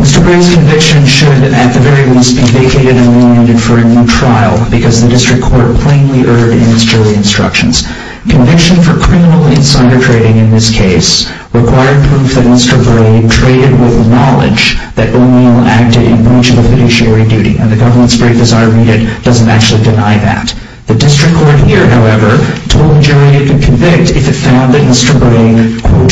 Mr. Bray's conviction should at the very least be vacated and remanded for a new trial because the district court plainly erred in its jury instructions. Conviction for criminal insider trading in this case required proof that Mr. Bray traded with knowledge that O'Neill acted in breach of a fiduciary duty, and the government's brief, as I read it, doesn't actually deny that. The district court here, however, told the jury it could convict if it found that Mr. Bray, quote,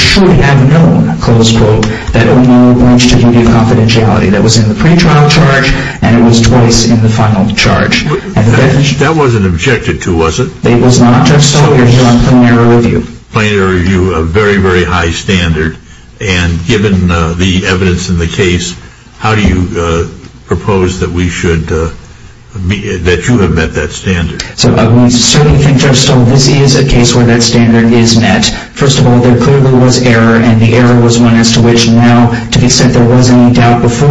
That wasn't objected to, was it? It was not, Judge Stoll. You're here on plain error review. Plain error review, a very, very high standard. And given the evidence in the case, how do you propose that we should, that you have met that standard? So we certainly think, Judge Stoll, this is a case where that standard is met. First of all, there clearly was error, and the error was one as to which now, to the extent there was any doubt before,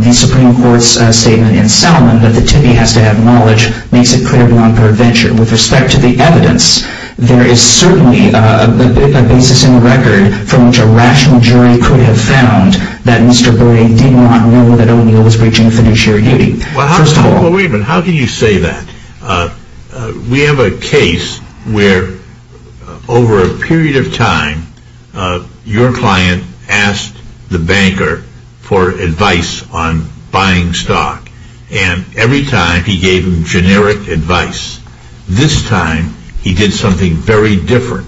the Supreme Court's statement in Selman that the Timmy has to have knowledge makes it clear beyond prevention. With respect to the evidence, there is certainly a basis in the record from which a rational jury could have found that Mr. Bray did not know that O'Neill was breaching fiduciary duty. Well, how can you say that? We have a case where, over a period of time, your client asked the banker for advice on buying stock. And every time, he gave him generic advice. This time, he did something very different.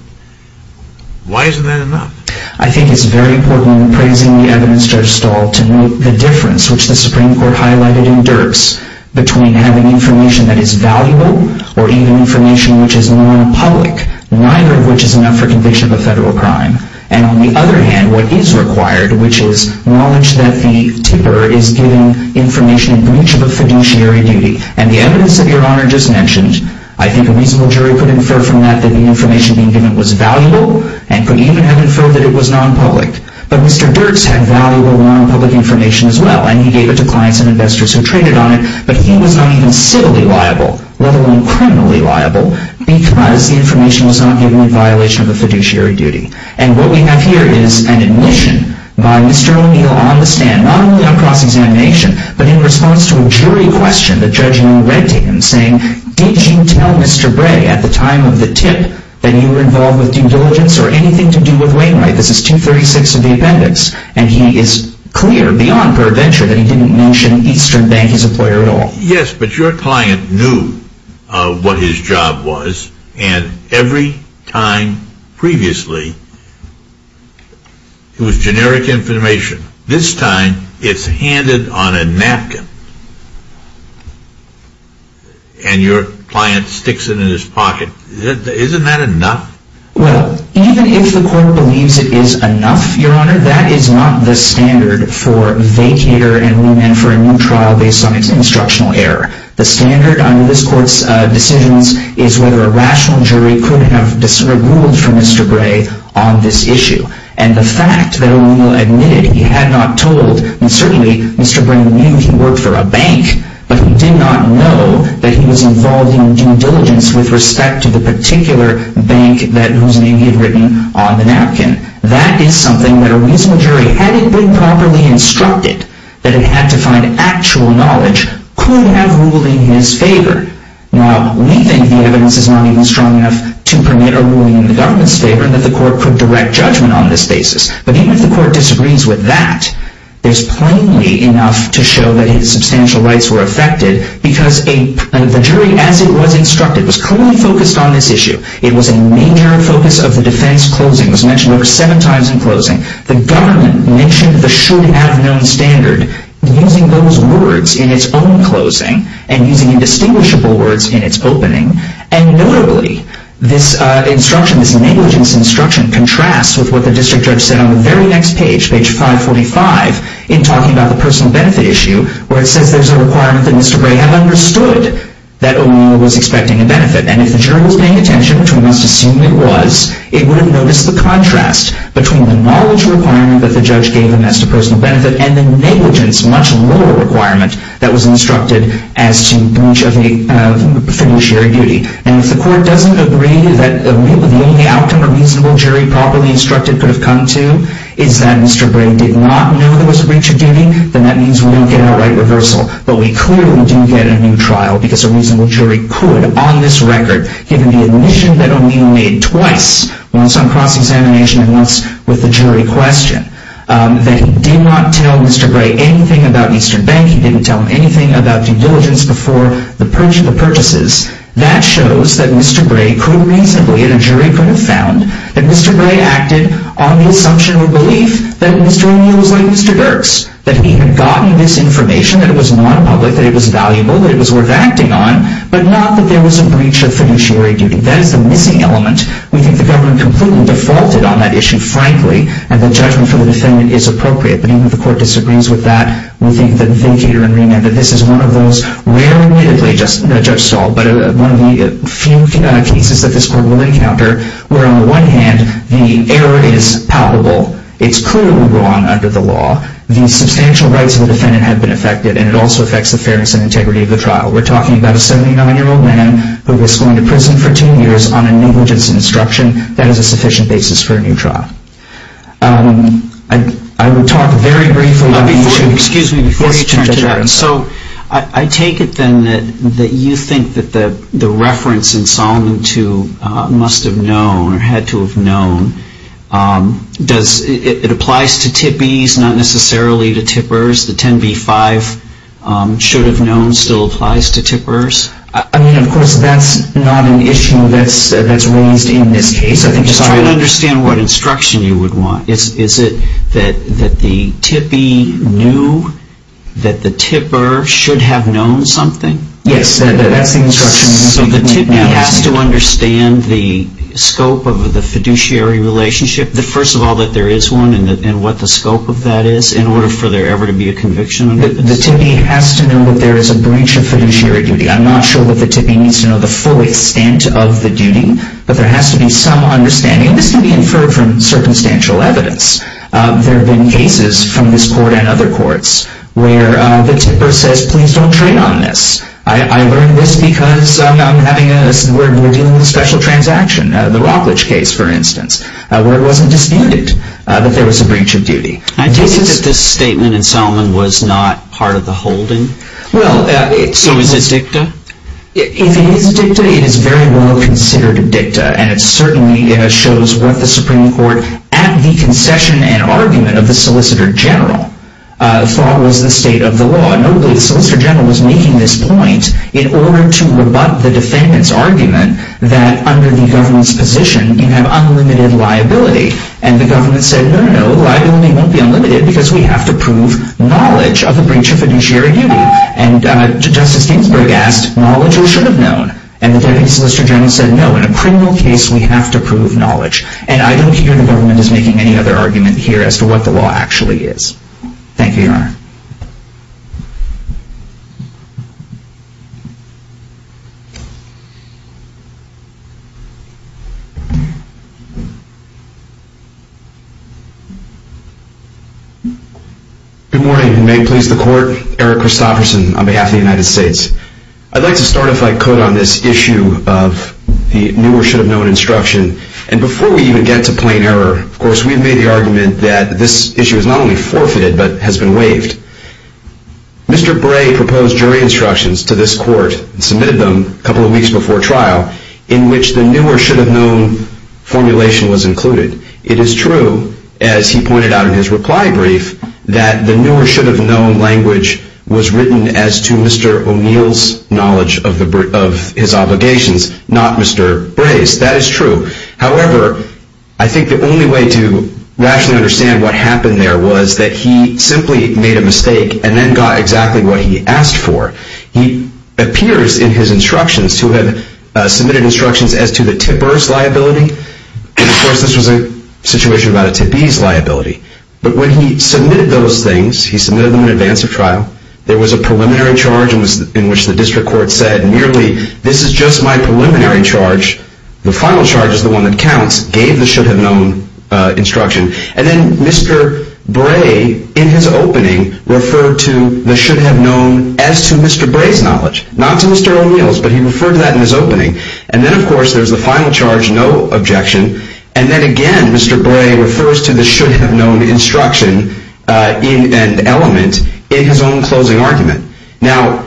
Why isn't that enough? I think it's very important, in praising the evidence, Judge Stoll, to note the difference, which the Supreme Court highlighted in Dirks, between having information that is valuable, or even information which is non-public, neither of which is enough for conviction of a federal crime. And on the other hand, what is required, which is knowledge that the tipper is giving information in breach of a fiduciary duty. And the evidence that Your Honor just mentioned, I think a reasonable jury could infer from that that the information being given was valuable, and could even have inferred that it was non-public. But Mr. Dirks had valuable non-public information as well, and he gave it to clients and investors who traded on it, but he was not even civilly liable, let alone criminally liable, because the information was not given in violation of a fiduciary duty. And what we have here is an admission by Mr. O'Neill on the stand, not only on cross-examination, but in response to a jury question the judge now read to him, saying, Did you tell Mr. Bray, at the time of the tip, that you were involved with due diligence, or anything to do with Wainwright? This is 236 of the appendix, and he is clear beyond pure venture that he didn't mention Eastern Bank as an employer at all. Yes, but your client knew what his job was, and every time previously, it was generic information. This time, it's handed on a napkin, and your client sticks it in his pocket. Isn't that enough? Well, even if the court believes it is enough, Your Honor, that is not the standard for vacator and remand for a new trial based on its instructional error. The standard under this court's decisions is whether a rational jury could have ruled for Mr. Bray on this issue. And the fact that O'Neill admitted he had not told, and certainly Mr. Bray knew he worked for a bank, but he did not know that he was involved in due diligence with respect to the particular bank whose name he had written on the napkin. That is something that a reasonable jury, had it been properly instructed that it had to find actual knowledge, could have ruled in his favor. Now, we think the evidence is not even strong enough to permit a ruling in the government's favor, and that the court could direct judgment on this basis. But even if the court disagrees with that, there's plainly enough to show that his substantial rights were affected, because the jury, as it was instructed, was clearly focused on this issue. It was a major focus of the defense closing. It was mentioned over seven times in closing. The government mentioned the should-have-known standard, using those words in its own closing, and using indistinguishable words in its opening. And notably, this negligence instruction contrasts with what the district judge said on the very next page, page 545, in talking about the personal benefit issue, where it says there's a requirement that Mr. Bray have understood that O'Neill was expecting a benefit. And if the jury was paying attention, which we must assume it was, it would have noticed the contrast between the knowledge requirement that the judge gave him as to personal benefit, and the negligence, much lower requirement, that was instructed as to breach of a fiduciary duty. And if the court doesn't agree that the only outcome a reasonable jury properly instructed could have come to is that Mr. Bray did not know there was a breach of duty, then that means we don't get a right reversal. But we clearly do get a new trial, because a reasonable jury could, on this record, given the admission that O'Neill made twice, once on cross-examination and once with the jury question, that he did not tell Mr. Bray anything about Eastern Bank. He didn't tell him anything about due diligence before the purchase of the purchases. That shows that Mr. Bray could reasonably, and a jury could have found, that Mr. Bray acted on the assumption or belief that Mr. O'Neill was like Mr. Burks, that he had gotten this information, that it was non-public, that it was valuable, that it was worth acting on, but not that there was a breach of fiduciary duty. That is the missing element. We think the government completely defaulted on that issue, frankly, and the judgment for the defendant is appropriate. But even if the court disagrees with that, we think that the vacater and remand, that this is one of those rarely, admittedly, Judge Stahl, but one of the few cases that this court will encounter, where on the one hand, the error is palpable. It's clearly wrong under the law. The substantial rights of the defendant have been affected, and it also affects the fairness and integrity of the trial. We're talking about a 79-year-old man who was going to prison for 10 years on a negligence instruction. That is a sufficient basis for a new trial. I will talk very briefly about the issue. Excuse me, before you turn to that. So I take it, then, that you think that the reference in Solomon II must have known or had to have known. I mean, of course, that's not an issue that's raised in this case. Just try to understand what instruction you would want. Is it that the tippee knew that the tipper should have known something? Yes, that's the instruction. So the tippee has to understand the scope of the fiduciary relationship. First of all, that there is one, and what the scope of that is, in order for there ever to be a conviction. The tippee has to know that there is a breach of fiduciary duty. I'm not sure that the tippee needs to know the full extent of the duty, but there has to be some understanding. And this can be inferred from circumstantial evidence. There have been cases from this court and other courts where the tipper says, please don't trade on this. I learned this because we're dealing with a special transaction, the Rockledge case, for instance, where it wasn't disputed that there was a breach of duty. I take it that this statement in Selman was not part of the holding? So is it dicta? If it is dicta, it is very well considered dicta, and it certainly shows what the Supreme Court, at the concession and argument of the Solicitor General, thought was the state of the law. Notably, the Solicitor General was making this point in order to rebut the defendant's argument that under the government's position, you have unlimited liability. And the government said, no, no, liability won't be unlimited because we have to prove knowledge of a breach of fiduciary duty. And Justice Ginsburg asked, knowledge you should have known. And the deputy Solicitor General said, no, in a criminal case, we have to prove knowledge. And I don't hear the government is making any other argument here as to what the law actually is. Thank you, Your Honor. Good morning. May it please the Court, Eric Christofferson on behalf of the United States. I'd like to start, if I could, on this issue of the new or should have known instruction. And before we even get to plain error, of course, we've made the argument that this issue is not only forfeited but has been waived. Mr. Bray proposed jury instructions to this court and submitted them a couple of weeks before trial, in which the new or should have known formulation was included. It is true, as he pointed out in his reply brief, that the new or should have known language was written as to Mr. O'Neill's knowledge of his obligations, not Mr. Bray's. That is true. However, I think the only way to rationally understand what happened there was that he simply made a mistake and then got exactly what he asked for. He appears in his instructions to have submitted instructions as to the TIPBRS liability. And, of course, this was a situation about a TIPB's liability. But when he submitted those things, he submitted them in advance of trial, there was a preliminary charge in which the district court said, merely, this is just my preliminary charge. The final charge is the one that counts. Gave the should have known instruction. And then Mr. Bray, in his opening, referred to the should have known as to Mr. Bray's knowledge. Not to Mr. O'Neill's, but he referred to that in his opening. And then, of course, there's the final charge, no objection. And then, again, Mr. Bray refers to the should have known instruction and element in his own closing argument. Now,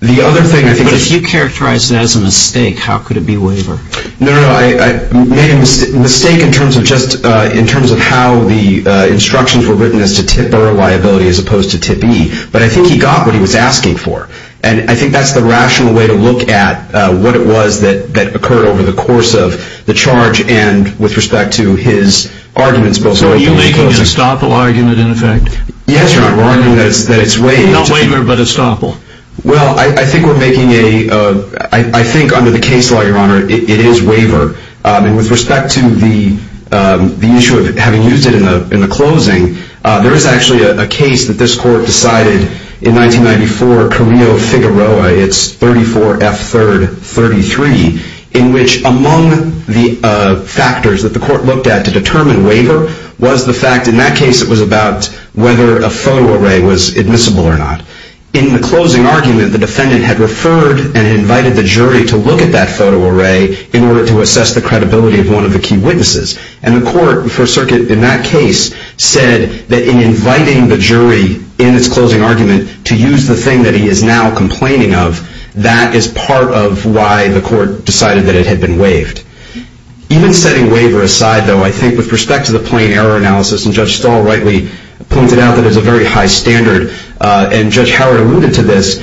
the other thing I think is... But if you characterize that as a mistake, how could it be waiver? No, no, no. I made a mistake in terms of just in terms of how the instructions were written as to TIPBRS liability as opposed to TIPB. But I think he got what he was asking for. And I think that's the rational way to look at what it was that occurred over the course of the charge and with respect to his arguments. So are you making an estoppel argument, in effect? Yes, Your Honor. We're arguing that it's waiver. Not waiver, but estoppel. Well, I think we're making a... I think under the case law, Your Honor, it is waiver. And with respect to the issue of having used it in the closing, there is actually a case that this court decided in 1994, Carillo-Figueroa. It's 34 F. 3rd 33, in which among the factors that the court looked at to determine waiver was the fact in that case it was about whether a photo array was admissible or not. In the closing argument, the defendant had referred and invited the jury to look at that photo array in order to assess the credibility of one of the key witnesses. And the court for a circuit in that case said that in inviting the jury in its closing argument to use the thing that he is now complaining of, that is part of why the court decided that it had been waived. Even setting waiver aside, though, I think with respect to the plain error analysis, and Judge Stahl rightly pointed out that it's a very high standard, and Judge Howard alluded to this,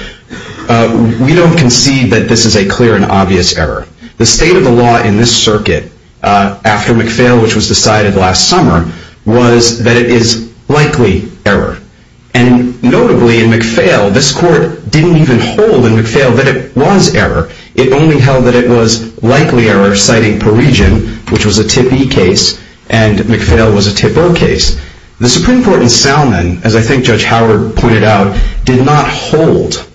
we don't concede that this is a clear and obvious error. The state of the law in this circuit, after McPhail, which was decided last summer, was that it is likely error. And notably, in McPhail, this court didn't even hold in McPhail that it was error. It only held that it was likely error, citing Parisian, which was a tip E case, and McPhail was a tip O case. The Supreme Court in Salmon, as I think Judge Howard pointed out, did not hold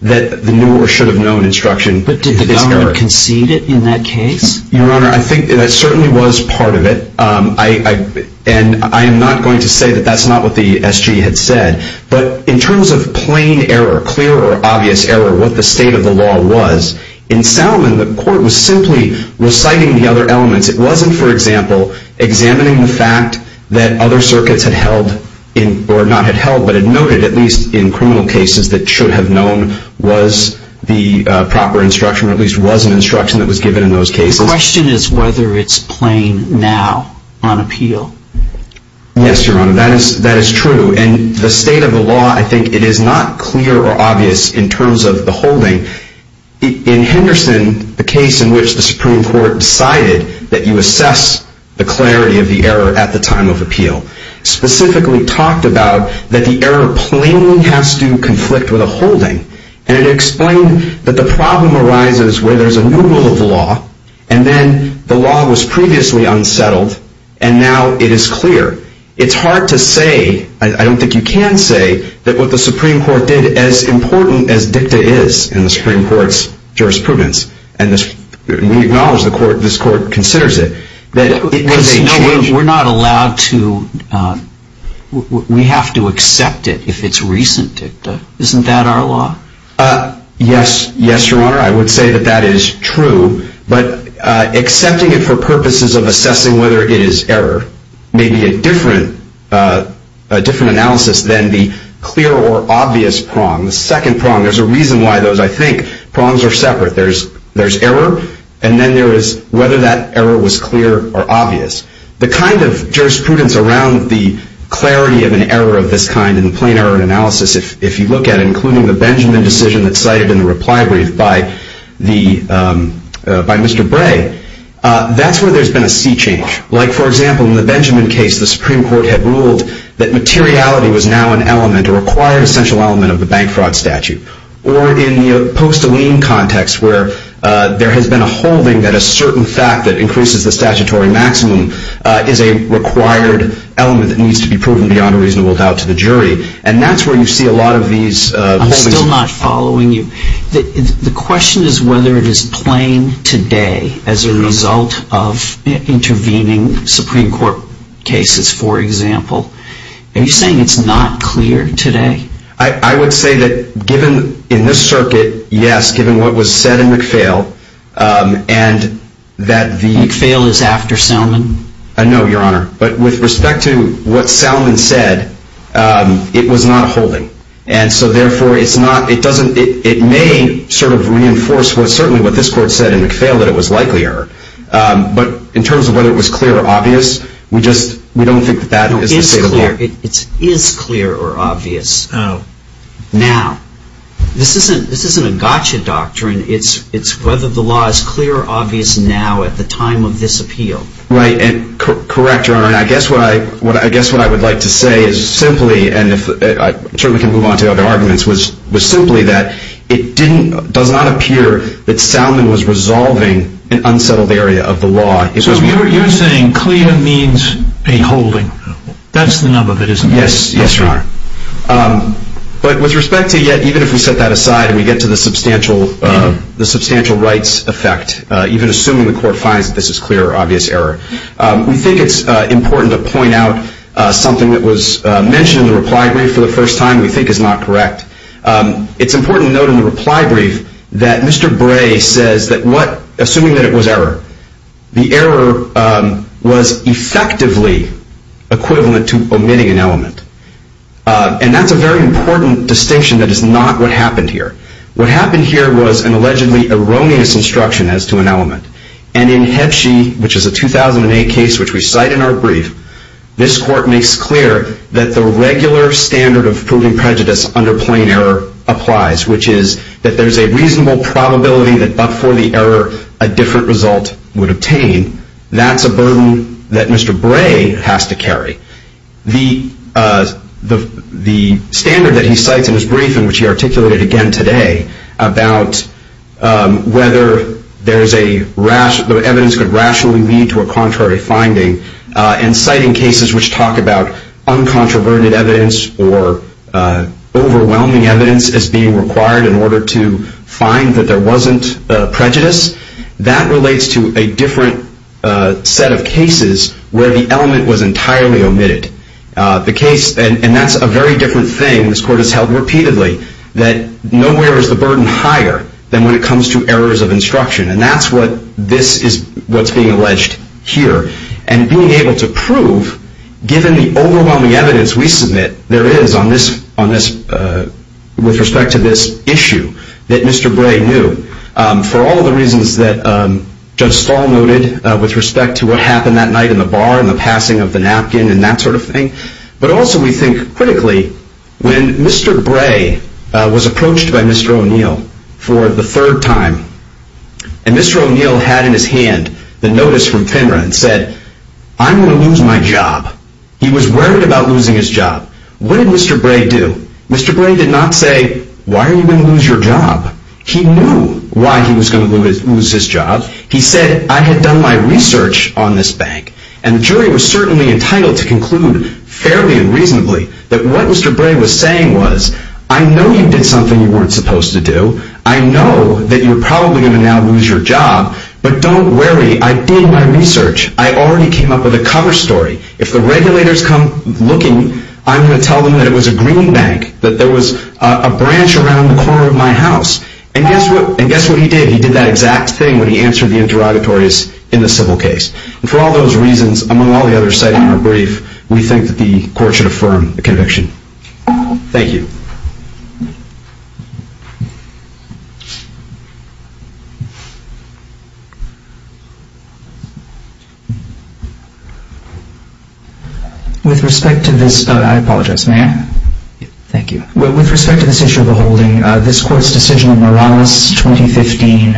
that the new or should have known instruction. But did the government concede it in that case? Your Honor, I think that certainly was part of it, and I am not going to say that that's not what the SG had said. But in terms of plain error, clear or obvious error, what the state of the law was, in Salmon the court was simply reciting the other elements. It wasn't, for example, examining the fact that other circuits had held, or not had held, but had noted, at least in criminal cases, that should have known was the proper instruction, or at least was an instruction that was given in those cases. The question is whether it's plain now on appeal. Yes, Your Honor, that is true. And the state of the law, I think it is not clear or obvious in terms of the holding. In Henderson, the case in which the Supreme Court decided that you assess the clarity of the error at the time of appeal, specifically talked about that the error plainly has to conflict with a holding. And it explained that the problem arises where there's a new rule of law, and then the law was previously unsettled, and now it is clear. It's hard to say, I don't think you can say, that what the Supreme Court did, as important as dicta is in the Supreme Court's jurisprudence, and we acknowledge this Court considers it, that it could change. We're not allowed to, we have to accept it if it's recent dicta. Isn't that our law? Yes, Your Honor, I would say that that is true, but accepting it for purposes of assessing whether it is error may be a different analysis than the clear or obvious prong. The second prong, there's a reason why those, I think, prongs are separate. There's error, and then there is whether that error was clear or obvious. The kind of jurisprudence around the clarity of an error of this kind in the plain error analysis, if you look at it, including the Benjamin decision that's cited in the reply brief by Mr. Bray, that's where there's been a sea change. Like, for example, in the Benjamin case, the Supreme Court had ruled that materiality was now an element, a required essential element of the bank fraud statute. Or in the Postoline context where there has been a holding that a certain fact that increases the statutory maximum is a required element that needs to be proven beyond a reasonable doubt to the jury, and that's where you see a lot of these holdings. I'm still not following you. The question is whether it is plain today as a result of intervening Supreme Court cases, for example. Are you saying it's not clear today? I would say that given in this circuit, yes, given what was said in McPhail, and that the- McPhail is after Salmon? No, Your Honor. But with respect to what Salmon said, it was not a holding. And so, therefore, it may sort of reinforce certainly what this Court said in McPhail that it was likely error. But in terms of whether it was clear or obvious, we don't think that that is the state of the art. It is clear or obvious now. This isn't a gotcha doctrine. It's whether the law is clear or obvious now at the time of this appeal. Correct, Your Honor. I guess what I would like to say is simply, and I'm sure we can move on to other arguments, was simply that it does not appear that Salmon was resolving an unsettled area of the law. So you're saying clear means a holding. That's the number that is clear. Yes, Your Honor. But with respect to yet, even if we set that aside and we get to the substantial rights effect, even assuming the Court finds that this is clear or obvious error, we think it's important to point out something that was mentioned in the reply brief for the first time we think is not correct. It's important to note in the reply brief that Mr. Bray says that what, assuming that it was error, the error was effectively equivalent to omitting an element. And that's a very important distinction that is not what happened here. What happened here was an allegedly erroneous instruction as to an element. And in Hebshey, which is a 2008 case which we cite in our brief, this Court makes clear that the regular standard of proving prejudice under plain error applies, which is that there's a reasonable probability that, but for the error, a different result would obtain. That's a burden that Mr. Bray has to carry. The standard that he cites in his brief, and which he articulated again today, about whether the evidence could rationally lead to a contrary finding, and citing cases which talk about uncontroverted evidence or overwhelming evidence as being required in order to find that there wasn't prejudice, that relates to a different set of cases where the element was entirely omitted. And that's a very different thing this Court has held repeatedly, that nowhere is the burden higher than when it comes to errors of instruction. And that's what's being alleged here. And being able to prove, given the overwhelming evidence we submit there is on this, with respect to this issue, that Mr. Bray knew, for all of the reasons that Judge Stahl noted with respect to what happened that night in the bar, and the passing of the napkin, and that sort of thing. But also we think critically, when Mr. Bray was approached by Mr. O'Neill for the third time, and Mr. O'Neill had in his hand the notice from Penra and said, I'm going to lose my job. He was worried about losing his job. What did Mr. Bray do? Mr. Bray did not say, why are you going to lose your job? He knew why he was going to lose his job. He said, I had done my research on this bank. And the jury was certainly entitled to conclude fairly and reasonably that what Mr. Bray was saying was, I know you did something you weren't supposed to do. I know that you're probably going to now lose your job. But don't worry. I did my research. I already came up with a cover story. If the regulators come looking, I'm going to tell them that it was a green bank, that there was a branch around the corner of my house. And guess what he did? He did that exact thing when he answered the interrogatories in the civil case. And for all those reasons, among all the others cited in our brief, we think that the court should affirm the conviction. Thank you. With respect to this issue of the holding, this court's decision in Morales, 2015,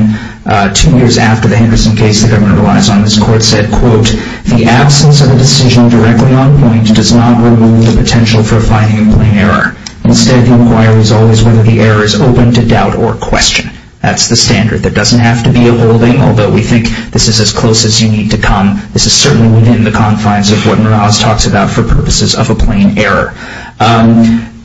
two years after the Henderson case the government relies on, this court said, quote, the absence of a decision directly on point does not remove the potential for finding a plain error. Instead, the inquiry is always whether the error is open to doubt or question. That's the standard. There doesn't have to be a holding, although we think this is as close as you need to come. This is certainly within the confines of what Morales talks about for purposes of a plain error.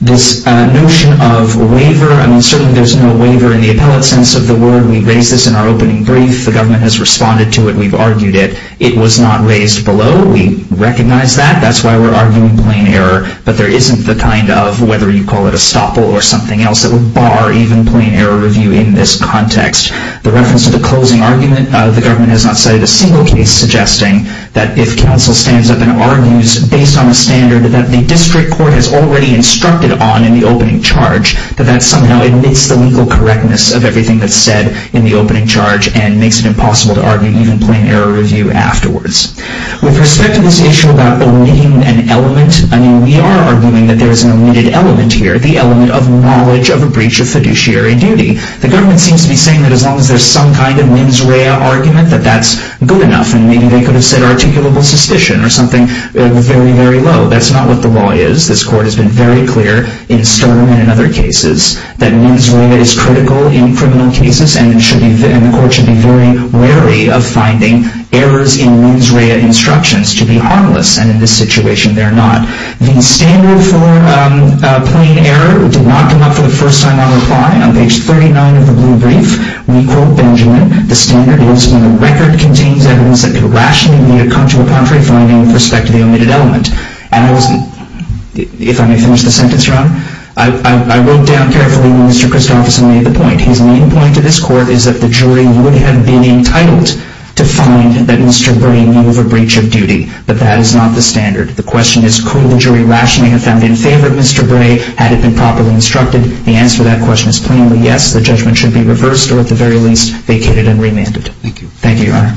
This notion of waiver, I mean, certainly there's no waiver in the appellate sense of the word. We raised this in our opening brief. The government has responded to it. We've argued it. It was not raised below. We recognize that. That's why we're arguing plain error. But there isn't the kind of, whether you call it a stopple or something else, that would bar even plain error review in this context. The reference to the closing argument, the government has not cited a single case suggesting that if counsel stands up and argues based on a standard that the district court has already instructed on in the opening charge, that that somehow omits the legal correctness of everything that's said in the opening charge and makes it impossible to argue even plain error review afterwards. With respect to this issue about omitting an element, I mean, we are arguing that there is an omitted element here, the element of knowledge of a breach of fiduciary duty. The government seems to be saying that as long as there's some kind of mens rea argument, that that's good enough. And maybe they could have said articulable suspicion or something very, very low. That's not what the law is. This court has been very clear in Stern and in other cases that mens rea is critical in criminal cases, and the court should be very wary of finding errors in mens rea instructions to be harmless. And in this situation, they're not. The standard for plain error did not come up for the first time on reply. On page 39 of the blue brief, we quote Benjamin, the standard is when the record contains evidence that could rationally make it come to a contrary finding with respect to the omitted element. And if I may finish the sentence, Ron, I wrote down carefully when Mr. Christopherson made the point. His main point to this court is that the jury would have been entitled to find that Mr. Bray knew of a breach of duty, but that is not the standard. The question is could the jury rationally have found in favor of Mr. Bray had it been properly instructed? The answer to that question is plainly yes. The judgment should be reversed or at the very least vacated and remanded. Thank you. Thank you, Your Honor.